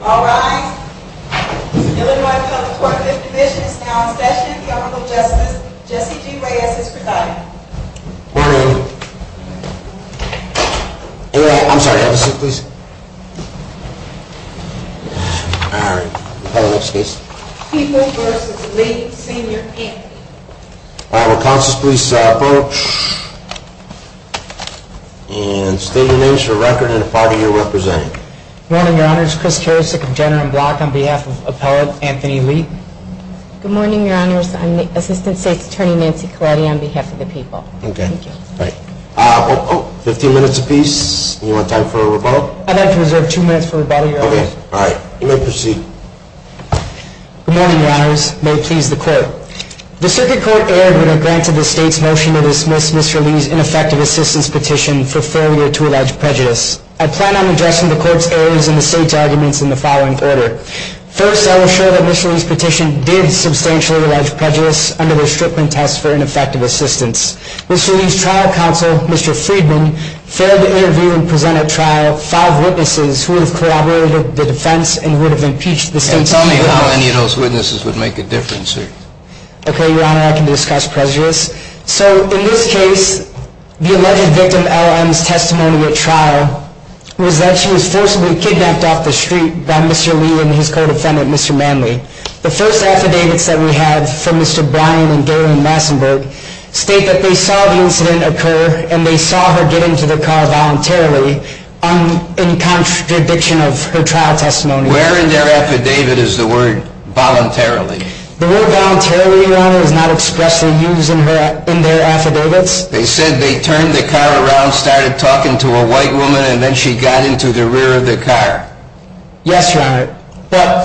All rise. The Illinois County Court of Fifth Division is now in session. The Honorable Justice Jesse G. Reyes is presiding. Morning. I'm sorry, have a seat please. All right, we'll call the next case. People v. Lee Sr. Anthony. All right, will counsels please approach. And state your names for record and the party you're representing. Good morning, Your Honors. Chris Karasik of Jenner and Block on behalf of Appellate Anthony Lee. Good morning, Your Honors. I'm Assistant State's Attorney Nancy Colletti on behalf of the people. Fifteen minutes apiece. Do you want time for a rebuttal? I'd like to reserve two minutes for rebuttal, Your Honors. All right, you may proceed. Good morning, Your Honors. May it please the Court. The Circuit Court erred when it granted the state's motion to dismiss Mr. Lee's ineffective assistance petition for failure to allege prejudice. I plan on addressing the Court's errors in the state's arguments in the following order. First, I will assure that Mr. Lee's petition did substantially allege prejudice under the Strickland test for ineffective assistance. Mr. Lee's trial counsel, Mr. Friedman, failed to interview and present at trial five witnesses who have corroborated the defense and would have impeached the state. And tell me how many of those witnesses would make a difference here. Okay, Your Honor, I can discuss prejudice. So, in this case, the alleged victim L.M.'s testimony at trial was that she was forcibly kidnapped off the street by Mr. Lee and his co-defendant, Mr. Manley. The first affidavits that we have from Mr. Bryan and Gary Massenburg state that they saw the incident occur and they saw her get into the car voluntarily, in contradiction of her trial testimony. Where in their affidavit is the word voluntarily? The word voluntarily, Your Honor, is not expressly used in their affidavits. They said they turned the car around, started talking to a white woman, and then she got into the rear of the car. Yes, Your Honor.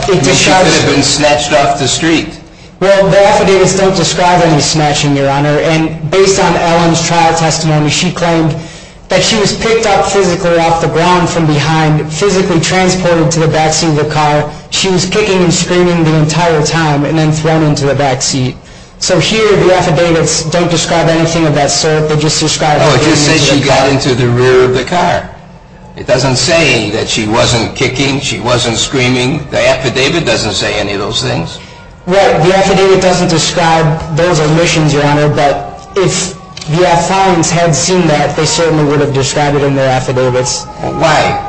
She could have been snatched off the street. Well, the affidavits don't describe any snatching, Your Honor. And based on L.M.'s trial testimony, she claimed that she was picked up physically off the ground from behind, physically transported to the backseat of the car. She was kicking and screaming the entire time, and then thrown into the backseat. So here, the affidavits don't describe anything of that sort. They just describe her getting into the car. Oh, it just says she got into the rear of the car. It doesn't say that she wasn't kicking, she wasn't screaming. The affidavit doesn't say any of those things. Right. The affidavit doesn't describe those omissions, Your Honor. But if the affidavits had seen that, they certainly would have described it in their affidavits. Why?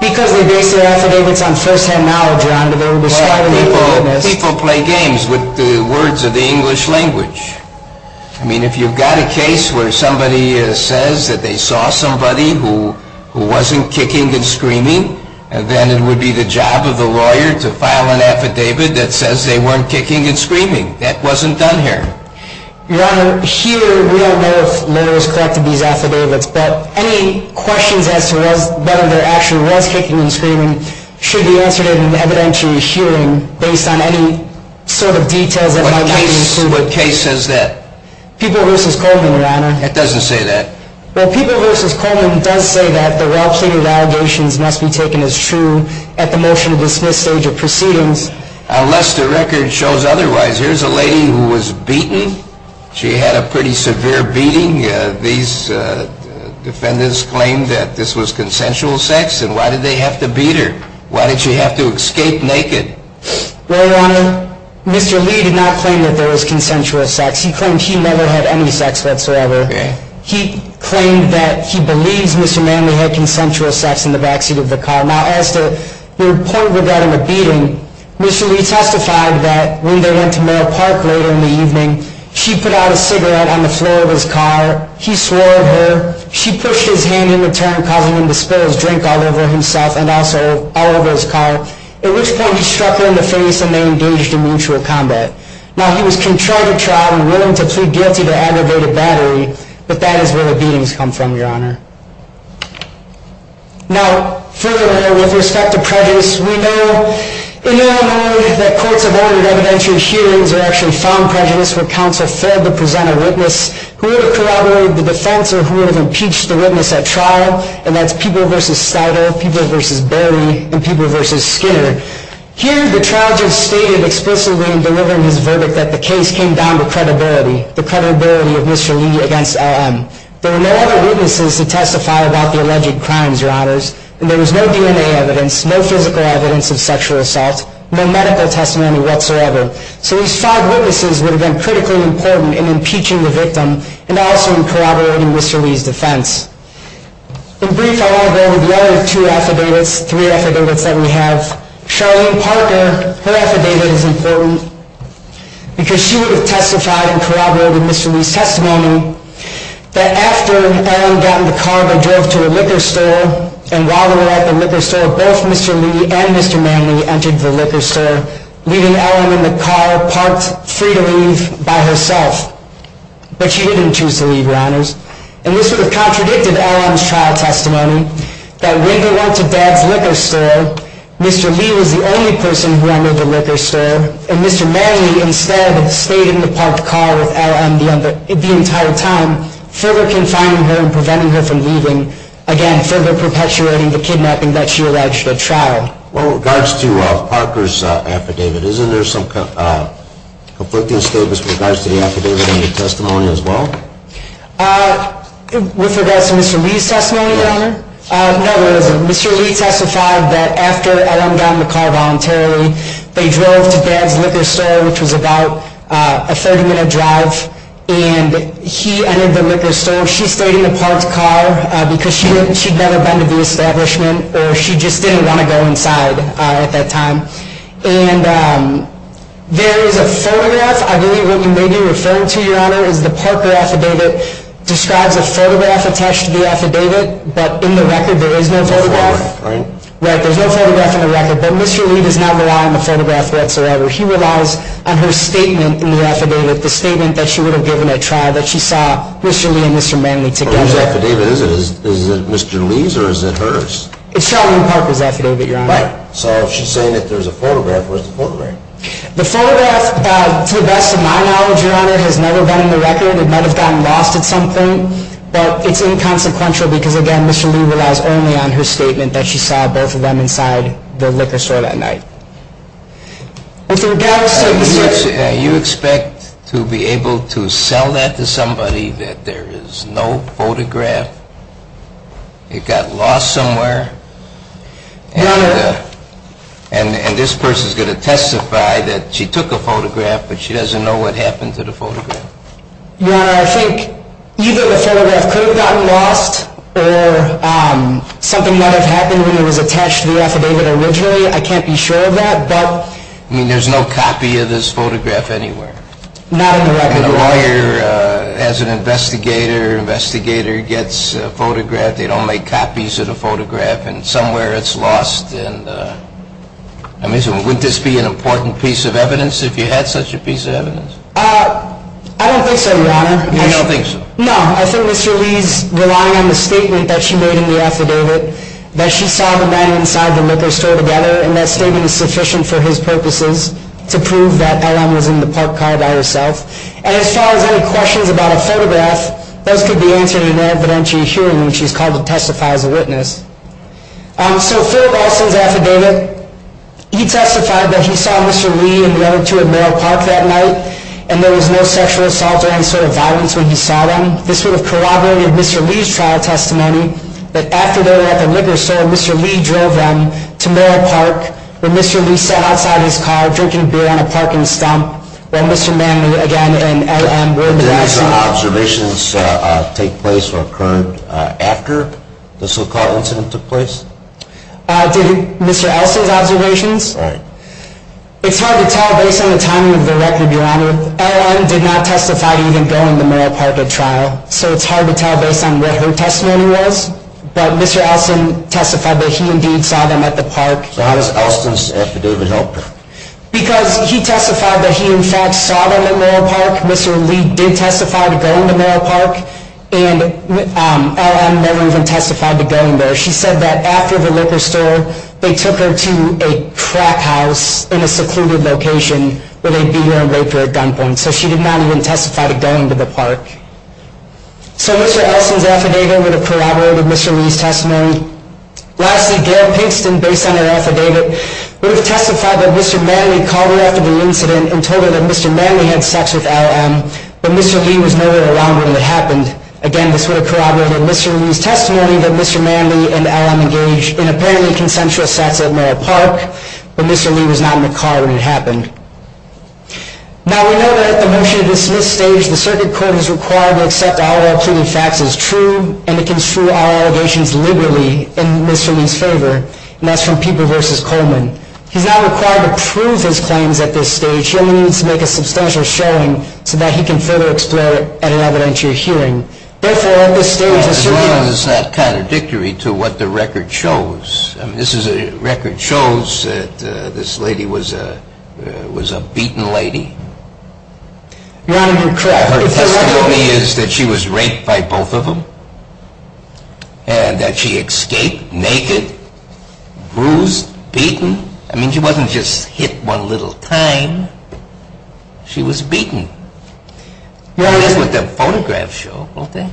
Because they base their affidavits on first-hand knowledge, Your Honor. They would describe it in their awareness. Well, people play games with the words of the English language. I mean, if you've got a case where somebody says that they saw somebody who wasn't kicking and screaming, then it would be the job of the lawyer to file an affidavit that says they weren't kicking and screaming. That wasn't done here. Your Honor, here we don't know if lawyers collected these affidavits, but any questions as to whether there actually was kicking and screaming should be answered in an evidentiary hearing based on any sort of details that might have been included. What case says that? People v. Coleman, Your Honor. It doesn't say that. Well, People v. Coleman does say that the well-pleaded allegations must be taken as true at the motion-to-dismiss stage of proceedings. Unless the record shows otherwise. Here's a lady who was beaten. She had a pretty severe beating. These defendants claimed that this was consensual sex, and why did they have to beat her? Why did she have to escape naked? Well, Your Honor, Mr. Lee did not claim that there was consensual sex. He claimed he never had any sex whatsoever. He claimed that he believes Mr. Manley had consensual sex in the backseat of the car. Now, as to the point regarding the beating, Mr. Lee testified that when they went to Merrill Park later in the evening, she put out a cigarette on the floor of his car. He swore at her. She pushed his hand in return, causing him to spill his drink all over himself and also all over his car, at which point he struck her in the face and they engaged in mutual combat. Now, he was contrary to trial and willing to plead guilty to aggravated battery, but that is where the beatings come from, Your Honor. Now, furthermore, with respect to prejudice, we know in Illinois that courts have ordered evidentiary hearings or actually found prejudice where counsel failed to present a witness who would have corroborated the defense or who would have impeached the witness at trial, and that's Peeble v. Stider, Peeble v. Bailey, and Peeble v. Skinner. Here, the trial judge stated explicitly in delivering his verdict that the case came down to credibility, the credibility of Mr. Lee against LM. There were no other witnesses to testify about the alleged crimes, Your Honors, and there was no DNA evidence, no physical evidence of sexual assault, no medical testimony whatsoever. So these five witnesses would have been critically important in impeaching the victim and also in corroborating Mr. Lee's defense. In brief, I want to go over the other two affidavits, three affidavits that we have. Charlene Parker, her affidavit is important because she would have testified and corroborated Mr. Lee's testimony. That after LM got in the car, they drove to a liquor store, and while they were at the liquor store, both Mr. Lee and Mr. Manley entered the liquor store, leaving LM in the car, parked, free to leave by herself. But she didn't choose to leave, Your Honors. And this would have contradicted LM's trial testimony, that when they went to Dad's liquor store, Mr. Lee was the only person who entered the liquor store, and Mr. Manley instead stayed in the parked car with LM the entire time, further confining her and preventing her from leaving, again, further perpetuating the kidnapping that she alleged at trial. Well, with regards to Parker's affidavit, isn't there some conflicting statements with regards to the affidavit and the testimony as well? With regards to Mr. Lee's testimony, Your Honor, no, there isn't. Mr. Lee testified that after LM got in the car voluntarily, they drove to Dad's liquor store, which was about a 30-minute drive, and he entered the liquor store. So she stayed in the parked car because she'd never been to the establishment, or she just didn't want to go inside at that time. And there is a photograph. I believe what you may be referring to, Your Honor, is the Parker affidavit describes a photograph attached to the affidavit. But in the record, there is no photograph. There's no photograph, right? Right, there's no photograph in the record. But Mr. Lee does not rely on the photograph whatsoever. He relies on her statement in the affidavit, the statement that she would have given at trial, that she saw Mr. Lee and Mr. Manley together. Whose affidavit is it? Is it Mr. Lee's or is it hers? It's Charlene Parker's affidavit, Your Honor. Right. So if she's saying that there's a photograph, where's the photograph? The photograph, to the best of my knowledge, Your Honor, has never been in the record. It might have gotten lost at some point. But it's inconsequential because, again, Mr. Lee relies only on her statement that she saw both of them inside the liquor store that night. I think that would suggest... You expect to be able to sell that to somebody that there is no photograph? It got lost somewhere? Your Honor... And this person's going to testify that she took a photograph, but she doesn't know what happened to the photograph? Your Honor, I think either the photograph could have gotten lost or something might have happened when it was attached to the affidavit originally. I can't be sure of that, but... I mean, there's no copy of this photograph anywhere. Not in the record. And a lawyer, as an investigator, gets a photograph. They don't make copies of the photograph, and somewhere it's lost. I mean, wouldn't this be an important piece of evidence if you had such a piece of evidence? I don't think so, Your Honor. You don't think so? No. I think Mr. Lee's relying on the statement that she made in the affidavit, that she saw the men inside the liquor store together, and that statement is sufficient for his purposes to prove that Ellen was in the park car by herself. And as far as any questions about a photograph, those could be answered in an evidentiary hearing when she's called to testify as a witness. So, Phil Ralston's affidavit, he testified that he saw Mr. Lee and the other two at Merrill Park that night, and there was no sexual assault or any sort of violence when he saw them. This would have corroborated Mr. Lee's trial testimony, that after they were at the liquor store, Mr. Lee drove them to Merrill Park, where Mr. Lee sat outside his car drinking beer on a parking stump, while Mr. Manley, again, and Ellen were in the dressing room. Did these observations take place or occur after the so-called incident took place? Did Mr. Elsa's observations? Right. It's hard to tell based on the timing of the record, Your Honor. Ellen did not testify to even going to Merrill Park at trial, so it's hard to tell based on what her testimony was. But Mr. Ralston testified that he indeed saw them at the park. So how does Ralston's affidavit help? Because he testified that he, in fact, saw them at Merrill Park. Mr. Lee did testify to going to Merrill Park, and Ellen never even testified to going there. She said that after the liquor store, they took her to a crack house in a secluded location, where they beat her and raped her at gunpoint. So she did not even testify to going to the park. So Mr. Elsa's affidavit would have corroborated Mr. Lee's testimony. Lastly, Gail Pinkston, based on her affidavit, would have testified that Mr. Manley called her after the incident and told her that Mr. Manley had sex with LLM, but Mr. Lee was nowhere around when it happened. Again, this would have corroborated Mr. Lee's testimony that Mr. Manley and LLM engaged in apparently consensual sex at Merrill Park, but Mr. Lee was not in the car when it happened. Now, we know that at the motion-to-dismiss stage, the circuit court is required to accept all of our pleaded facts as true and to construe our allegations liberally in Mr. Lee's favor, and that's from Pieper v. Coleman. He's not required to prove his claims at this stage. Mr. Lee needs to make a substantial showing so that he can further explore it at an evidentiary hearing. Therefore, at this stage, Mr. Lee... As long as it's not contradictory to what the record shows. This record shows that this lady was a beaten lady. Your Honor, you're correct. Her testimony is that she was raped by both of them, and that she escaped naked, bruised, beaten. I mean, she wasn't just hit one little time. She was beaten. That's what the photographs show, don't they?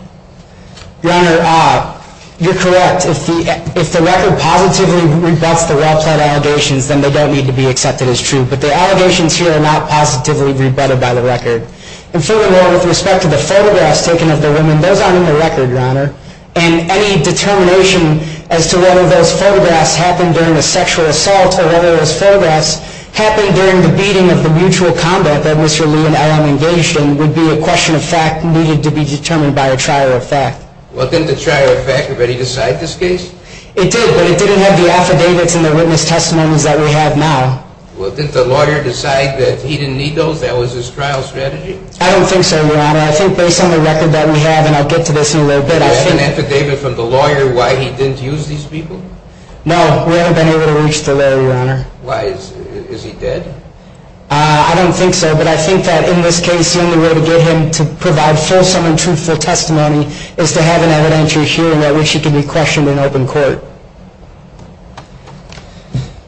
Your Honor, you're correct. If the record positively rebuts the well-pleaded allegations, then they don't need to be accepted as true. But the allegations here are not positively rebutted by the record. And furthermore, with respect to the photographs taken of the women, those aren't in the record, Your Honor. And any determination as to whether those photographs happened during a sexual assault or whether those photographs happened during the beating of the mutual combat that Mr. Lee and I am engaged in would be a question of fact needed to be determined by a trier of fact. Well, didn't the trier of fact already decide this case? It did, but it didn't have the affidavits and the witness testimonies that we have now. Well, didn't the lawyer decide that he didn't need those? That was his trial strategy? I don't think so, Your Honor. I think based on the record that we have, and I'll get to this in a little bit, I think... Do you have an affidavit from the lawyer why he didn't use these people? No. We haven't been able to reach the lawyer, Your Honor. Why? Is he dead? I don't think so, but I think that in this case, the only way to get him to provide fulsome and truthful testimony is to have an evidentiary hearing at which he can be questioned in open court.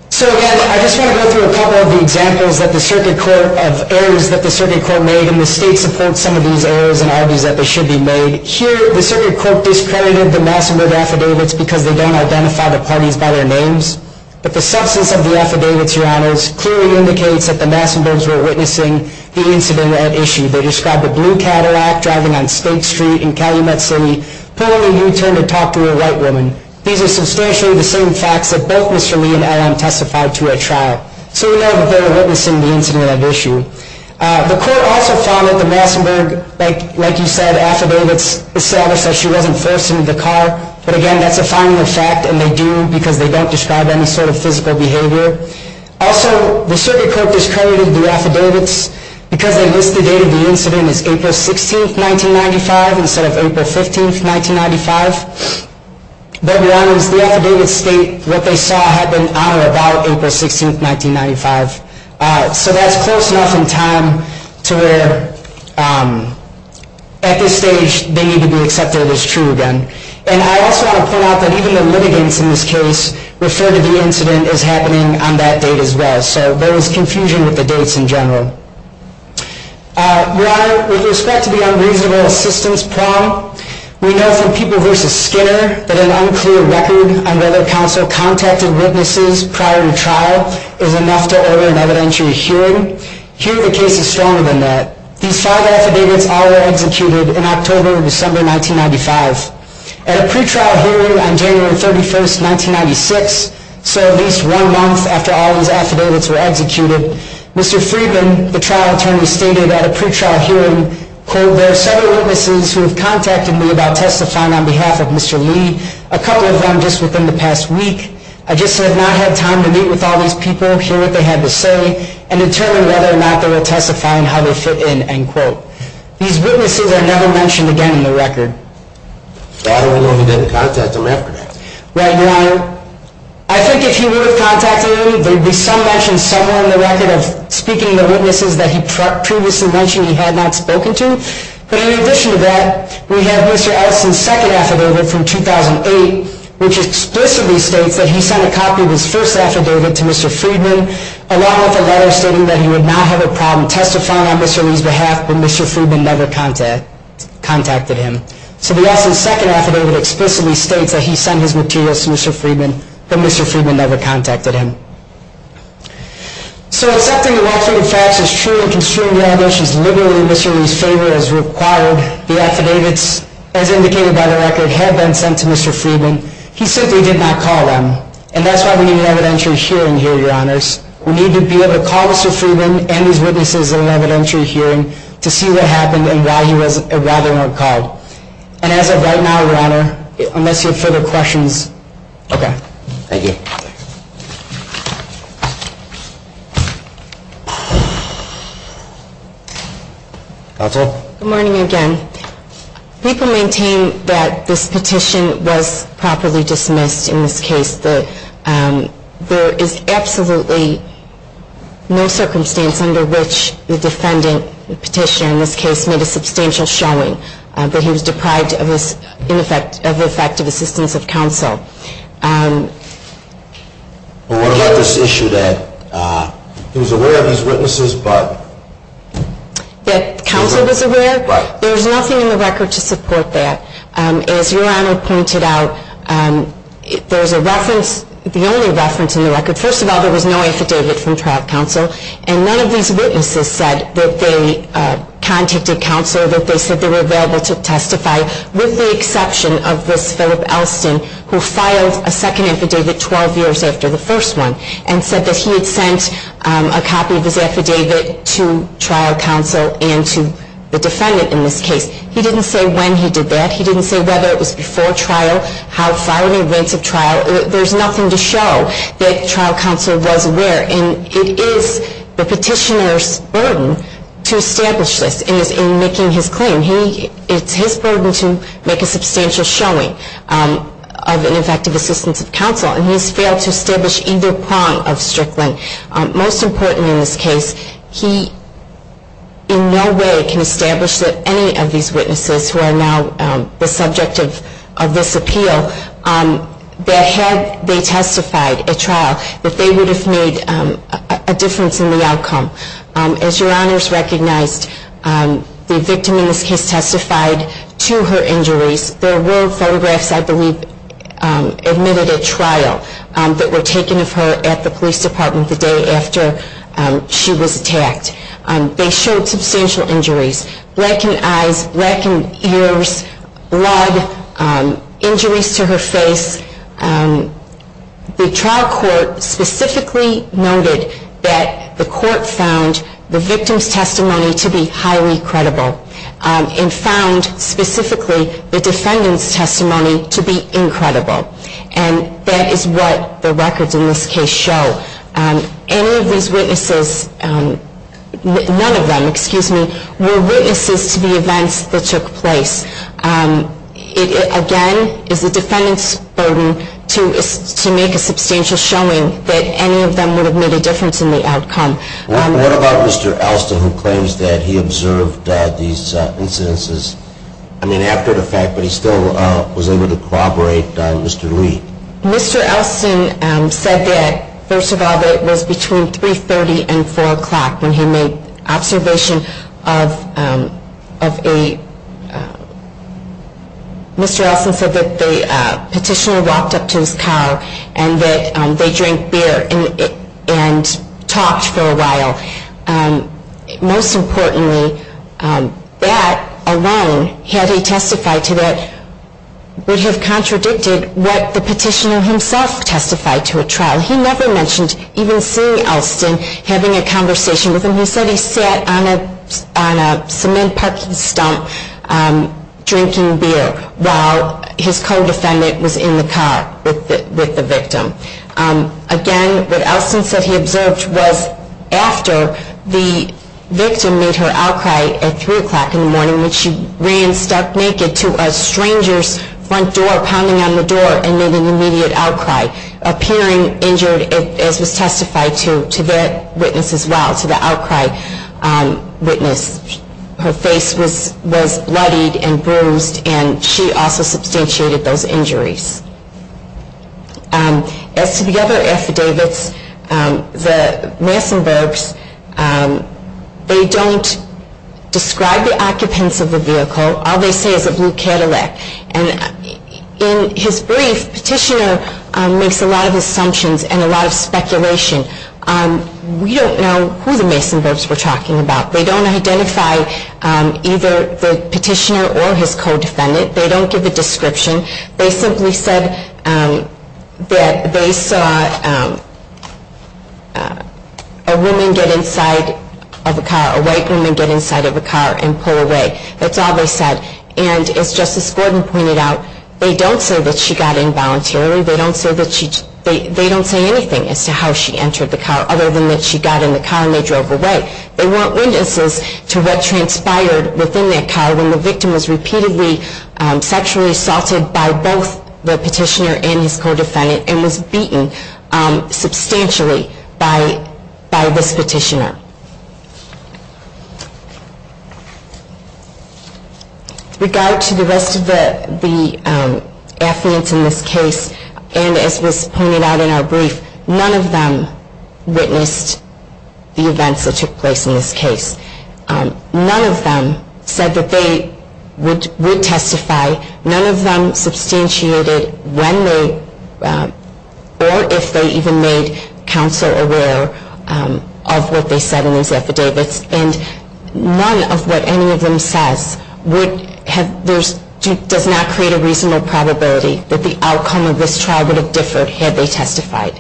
So, again, I just want to go through a couple of the examples of errors that the circuit court made, and the state supports some of these errors and argues that they should be made. Here, the circuit court discredited the Massenburg affidavits because they don't identify the parties by their names, but the substance of the affidavits, Your Honors, clearly indicates that the Massenburgs were witnessing the incident at issue. They described a blue Cadillac driving on State Street in Calumet City pulling a U-turn to talk to a white woman. These are substantially the same facts that both Mr. Lee and LM testified to at trial, so we know that they were witnessing the incident at issue. The court also found that the Massenburg, like you said, affidavits established that she wasn't forced into the car, but, again, that's a final fact, and they do because they don't describe any sort of physical behavior. Also, the circuit court discredited the affidavits because they listed the date of the incident as April 16, 1995, instead of April 15, 1995. But, Your Honors, the affidavits state what they saw happen on or about April 16, 1995. So that's close enough in time to where, at this stage, they need to be accepted as true again. And I also want to point out that even the litigants in this case referred to the incident as happening on that date as well, so there was confusion with the dates in general. Your Honor, with respect to the unreasonable assistance problem, we know from People v. Skinner that an unclear record on whether counsel contacted witnesses prior to trial is enough to order an evidentiary hearing. Here, the case is stronger than that. These five affidavits all were executed in October and December 1995. At a pretrial hearing on January 31, 1996, so at least one month after all these affidavits were executed, Mr. Friedman, the trial attorney, stated at a pretrial hearing, quote, there are several witnesses who have contacted me about testifying on behalf of Mr. Lee, a couple of them just within the past week. I just have not had time to meet with all these people, hear what they had to say, and determine whether or not they were testifying, how they fit in, end quote. These witnesses are never mentioned again in the record. So I don't even know if he did contact them after that. Right, Your Honor. I think if he would have contacted them, there would be some mention somewhere in the record of speaking to witnesses that he previously mentioned he had not spoken to. But in addition to that, we have Mr. Ellison's second affidavit from 2008, which explicitly states that he sent a copy of his first affidavit to Mr. Friedman, along with a letter stating that he would not have a problem testifying on Mr. Lee's behalf, but Mr. Friedman never contacted him. So the Ellison's second affidavit explicitly states that he sent his materials to Mr. Friedman, but Mr. Friedman never contacted him. So accepting the well-founded facts as true and construing the allegations literally in Mr. Lee's favor as required, the affidavits, as indicated by the record, have been sent to Mr. Friedman. He simply did not call them. And that's why we need an evidentiary hearing here, Your Honors. We need to be able to call Mr. Friedman and his witnesses at an evidentiary hearing to see what happened and why they weren't called. And as of right now, Your Honor, unless you have further questions. Okay. Thank you. Counsel? Good morning again. People maintain that this petition was properly dismissed in this case. There is absolutely no circumstance under which the defendant, the petitioner in this case, made a substantial showing that he was deprived of effective assistance of counsel. What about this issue that he was aware of his witnesses, but? That counsel was aware? Right. There's nothing in the record to support that. As Your Honor pointed out, there's a reference, the only reference in the record, first of all, there was no affidavit from trial counsel, and none of these witnesses said that they contacted counsel, that they said they were available to testify, with the exception of this Philip Elston, who filed a second affidavit 12 years after the first one, and said that he had sent a copy of his affidavit to trial counsel and to the defendant in this case. He didn't say when he did that. He didn't say whether it was before trial, how far in advance of trial. There's nothing to show that trial counsel was aware, and it is the petitioner's burden to establish this in making his claim. It's his burden to make a substantial showing of an effective assistance of counsel, and he has failed to establish either prong of Strickland. Most important in this case, he in no way can establish that any of these witnesses who are now the subject of this appeal, that had they testified at trial, that they would have made a difference in the outcome. As Your Honors recognized, the victim in this case testified to her injuries. There were photographs, I believe, that were taken of her at the police department the day after she was attacked. They showed substantial injuries, blackened eyes, blackened ears, blood, injuries to her face. The trial court specifically noted that the court found the victim's testimony to be highly credible and found specifically the defendant's testimony to be incredible, and that is what the records in this case show. Any of these witnesses, none of them, excuse me, were witnesses to the events that took place. It, again, is the defendant's burden to make a substantial showing that any of them would have made a difference in the outcome. What about Mr. Elston, who claims that he observed these incidences, I mean, after the fact, but he still was able to corroborate Mr. Lee? Mr. Elston said that, first of all, that it was between 3.30 and 4 o'clock when he made observation of a, Mr. Elston said that the petitioner walked up to his car and that they drank beer and talked for a while. Most importantly, that alone, had he testified to that, would have contradicted what the petitioner himself testified to at trial. He never mentioned even seeing Elston, having a conversation with him. He said he sat on a cement parking stump drinking beer while his co-defendant was in the car with the victim. Again, what Elston said he observed was after the victim made her outcry at 3 o'clock in the morning when she ran, stuck naked, to a stranger's front door, pounding on the door, and made an immediate outcry, appearing injured, as was testified to that witness as well, to the outcry witness. Her face was bloodied and bruised, and she also substantiated those injuries. As to the other affidavits, the Massenburgs, they don't describe the occupants of the vehicle. All they say is a blue Cadillac. And in his brief, the petitioner makes a lot of assumptions and a lot of speculation. We don't know who the Massenburgs were talking about. They don't identify either the petitioner or his co-defendant. They don't give a description. They simply said that they saw a woman get inside of a car, a white woman get inside of a car and pull away. That's all they said. And as Justice Gordon pointed out, they don't say that she got in voluntarily. They don't say anything as to how she entered the car, other than that she got in the car and they drove away. They weren't witnesses to what transpired within that car when the victim was repeatedly sexually assaulted by both the petitioner and his co-defendant and was beaten substantially by this petitioner. With regard to the rest of the affidavits in this case, and as was pointed out in our brief, none of them witnessed the events that took place in this case. None of them said that they would testify. None of them substantiated when they, or if they even made counsel aware of what they said in these affidavits. And none of what any of them says does not create a reasonable probability that the outcome of this trial would have differed had they testified.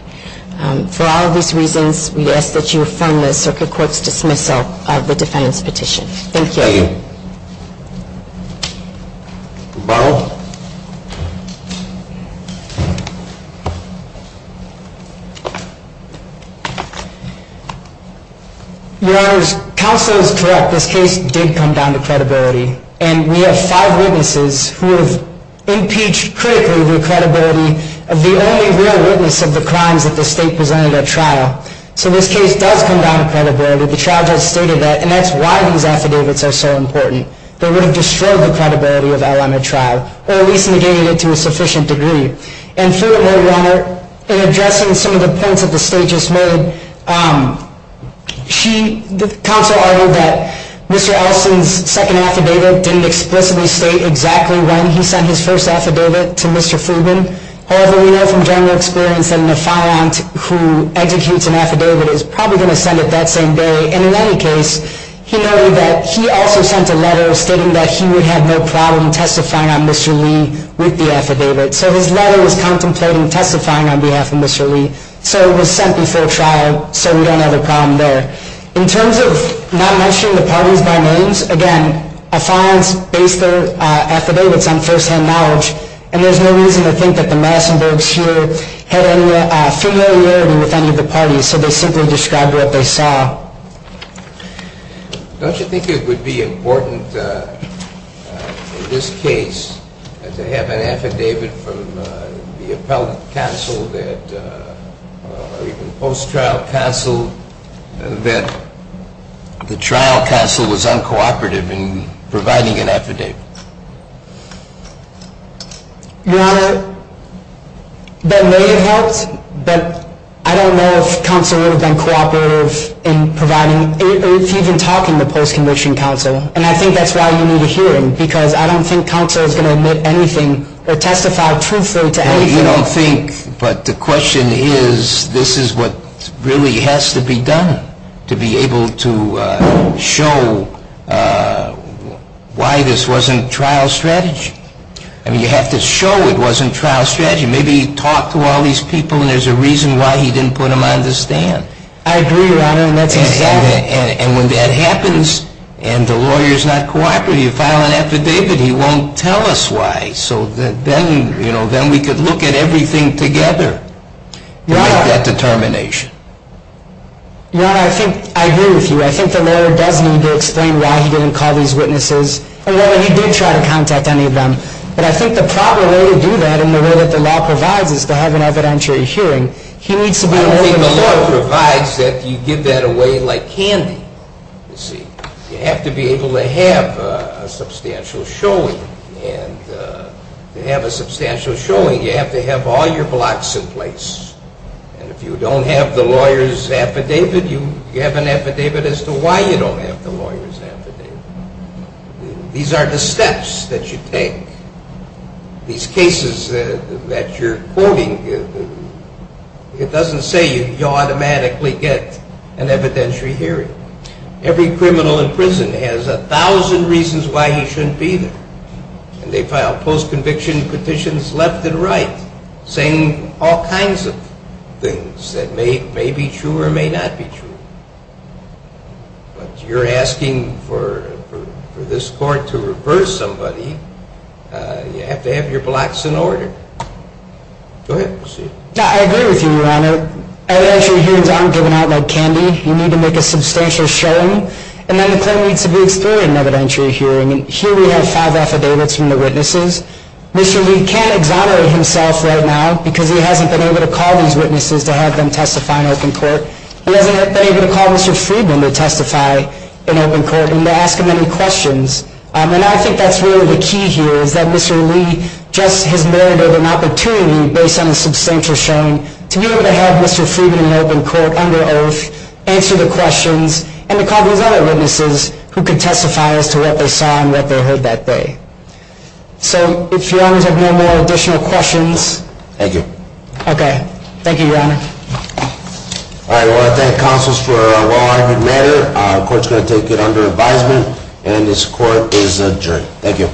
For all of these reasons, we ask that you affirm the circuit court's dismissal of the defendant's petition. Thank you. Thank you. Barlow. Your Honor, counsel is correct. This case did come down to credibility. And we have five witnesses who have impeached critically the credibility of the only real witness of the crimes that the state presented at trial. So this case does come down to credibility. The charge has stated that, and that's why these affidavits are so important. They would have destroyed the credibility of LLM at trial, or at least negated it to a sufficient degree. And through it, Your Honor, in addressing some of the points that the state just made, she, the counsel argued that Mr. Ellison's second affidavit didn't explicitly state exactly when he sent his first affidavit to Mr. Freeman. However, we know from general experience that an affidavit is probably going to send it that same day. And in any case, he noted that he also sent a letter stating that he would have no problem testifying on Mr. Lee with the affidavit. So his letter was contemplating testifying on behalf of Mr. Lee. So it was sent before trial. So we don't have a problem there. In terms of not mentioning the parties by names, again, affidavits base their affidavits on firsthand knowledge. And there's no reason to think that the Massenbergs here had any familiarity with any of the parties. So they simply described what they saw. Don't you think it would be important in this case to have an affidavit from the appellate counsel or even post-trial counsel that the trial counsel was uncooperative in providing an affidavit? Your Honor, that may have helped, but I don't know if counsel would have been cooperative in providing or even talking to post-condition counsel. And I think that's why you need a hearing, because I don't think counsel is going to admit anything or testify truthfully to anything. Well, you don't think, but the question is, this is what really has to be done to be able to show why this wasn't done. I mean, you have to show it wasn't trial strategy. Maybe he talked to all these people, and there's a reason why he didn't put them on the stand. I agree, Your Honor, and that's exactly it. And when that happens, and the lawyer's not cooperative, you file an affidavit, he won't tell us why. So then we could look at everything together. We have that determination. Your Honor, I agree with you. I think the lawyer does need to explain why he didn't call these witnesses. And, well, he did try to contact any of them. But I think the proper way to do that and the way that the law provides is to have an evidentiary hearing. He needs to be able to show. I don't think the law provides that. You give that away like candy, you see. You have to be able to have a substantial showing. And to have a substantial showing, you have to have all your blocks in place. And if you don't have the lawyer's affidavit, you have an affidavit as to why you don't have the lawyer's affidavit. These are the steps that you take. These cases that you're quoting, it doesn't say you automatically get an evidentiary hearing. Every criminal in prison has a thousand reasons why he shouldn't be there. And they file post-conviction petitions left and right saying all kinds of things that may be true or may not be true. But you're asking for this court to reverse somebody. You have to have your blocks in order. Go ahead. I agree with you, Your Honor. Evidentiary hearings aren't given out like candy. You need to make a substantial showing. And then the claim needs to be explored in an evidentiary hearing. And here we have five affidavits from the witnesses. Mr. Lee can't exonerate himself right now because he hasn't been able to call these witnesses to have them testify in open court. He hasn't been able to call Mr. Friedman to testify in open court and to ask him any questions. And I think that's really the key here is that Mr. Lee just has merited an opportunity based on a substantial showing to be able to have Mr. Friedman in open court under oath, answer the questions, and to call these other witnesses who can testify as to what they saw and what they heard that day. So if you have no more additional questions. Thank you. Okay. Thank you, Your Honor. All right. I want to thank counsels for a well-argued matter. The court's going to take it under advisement. And this court is adjourned. Thank you.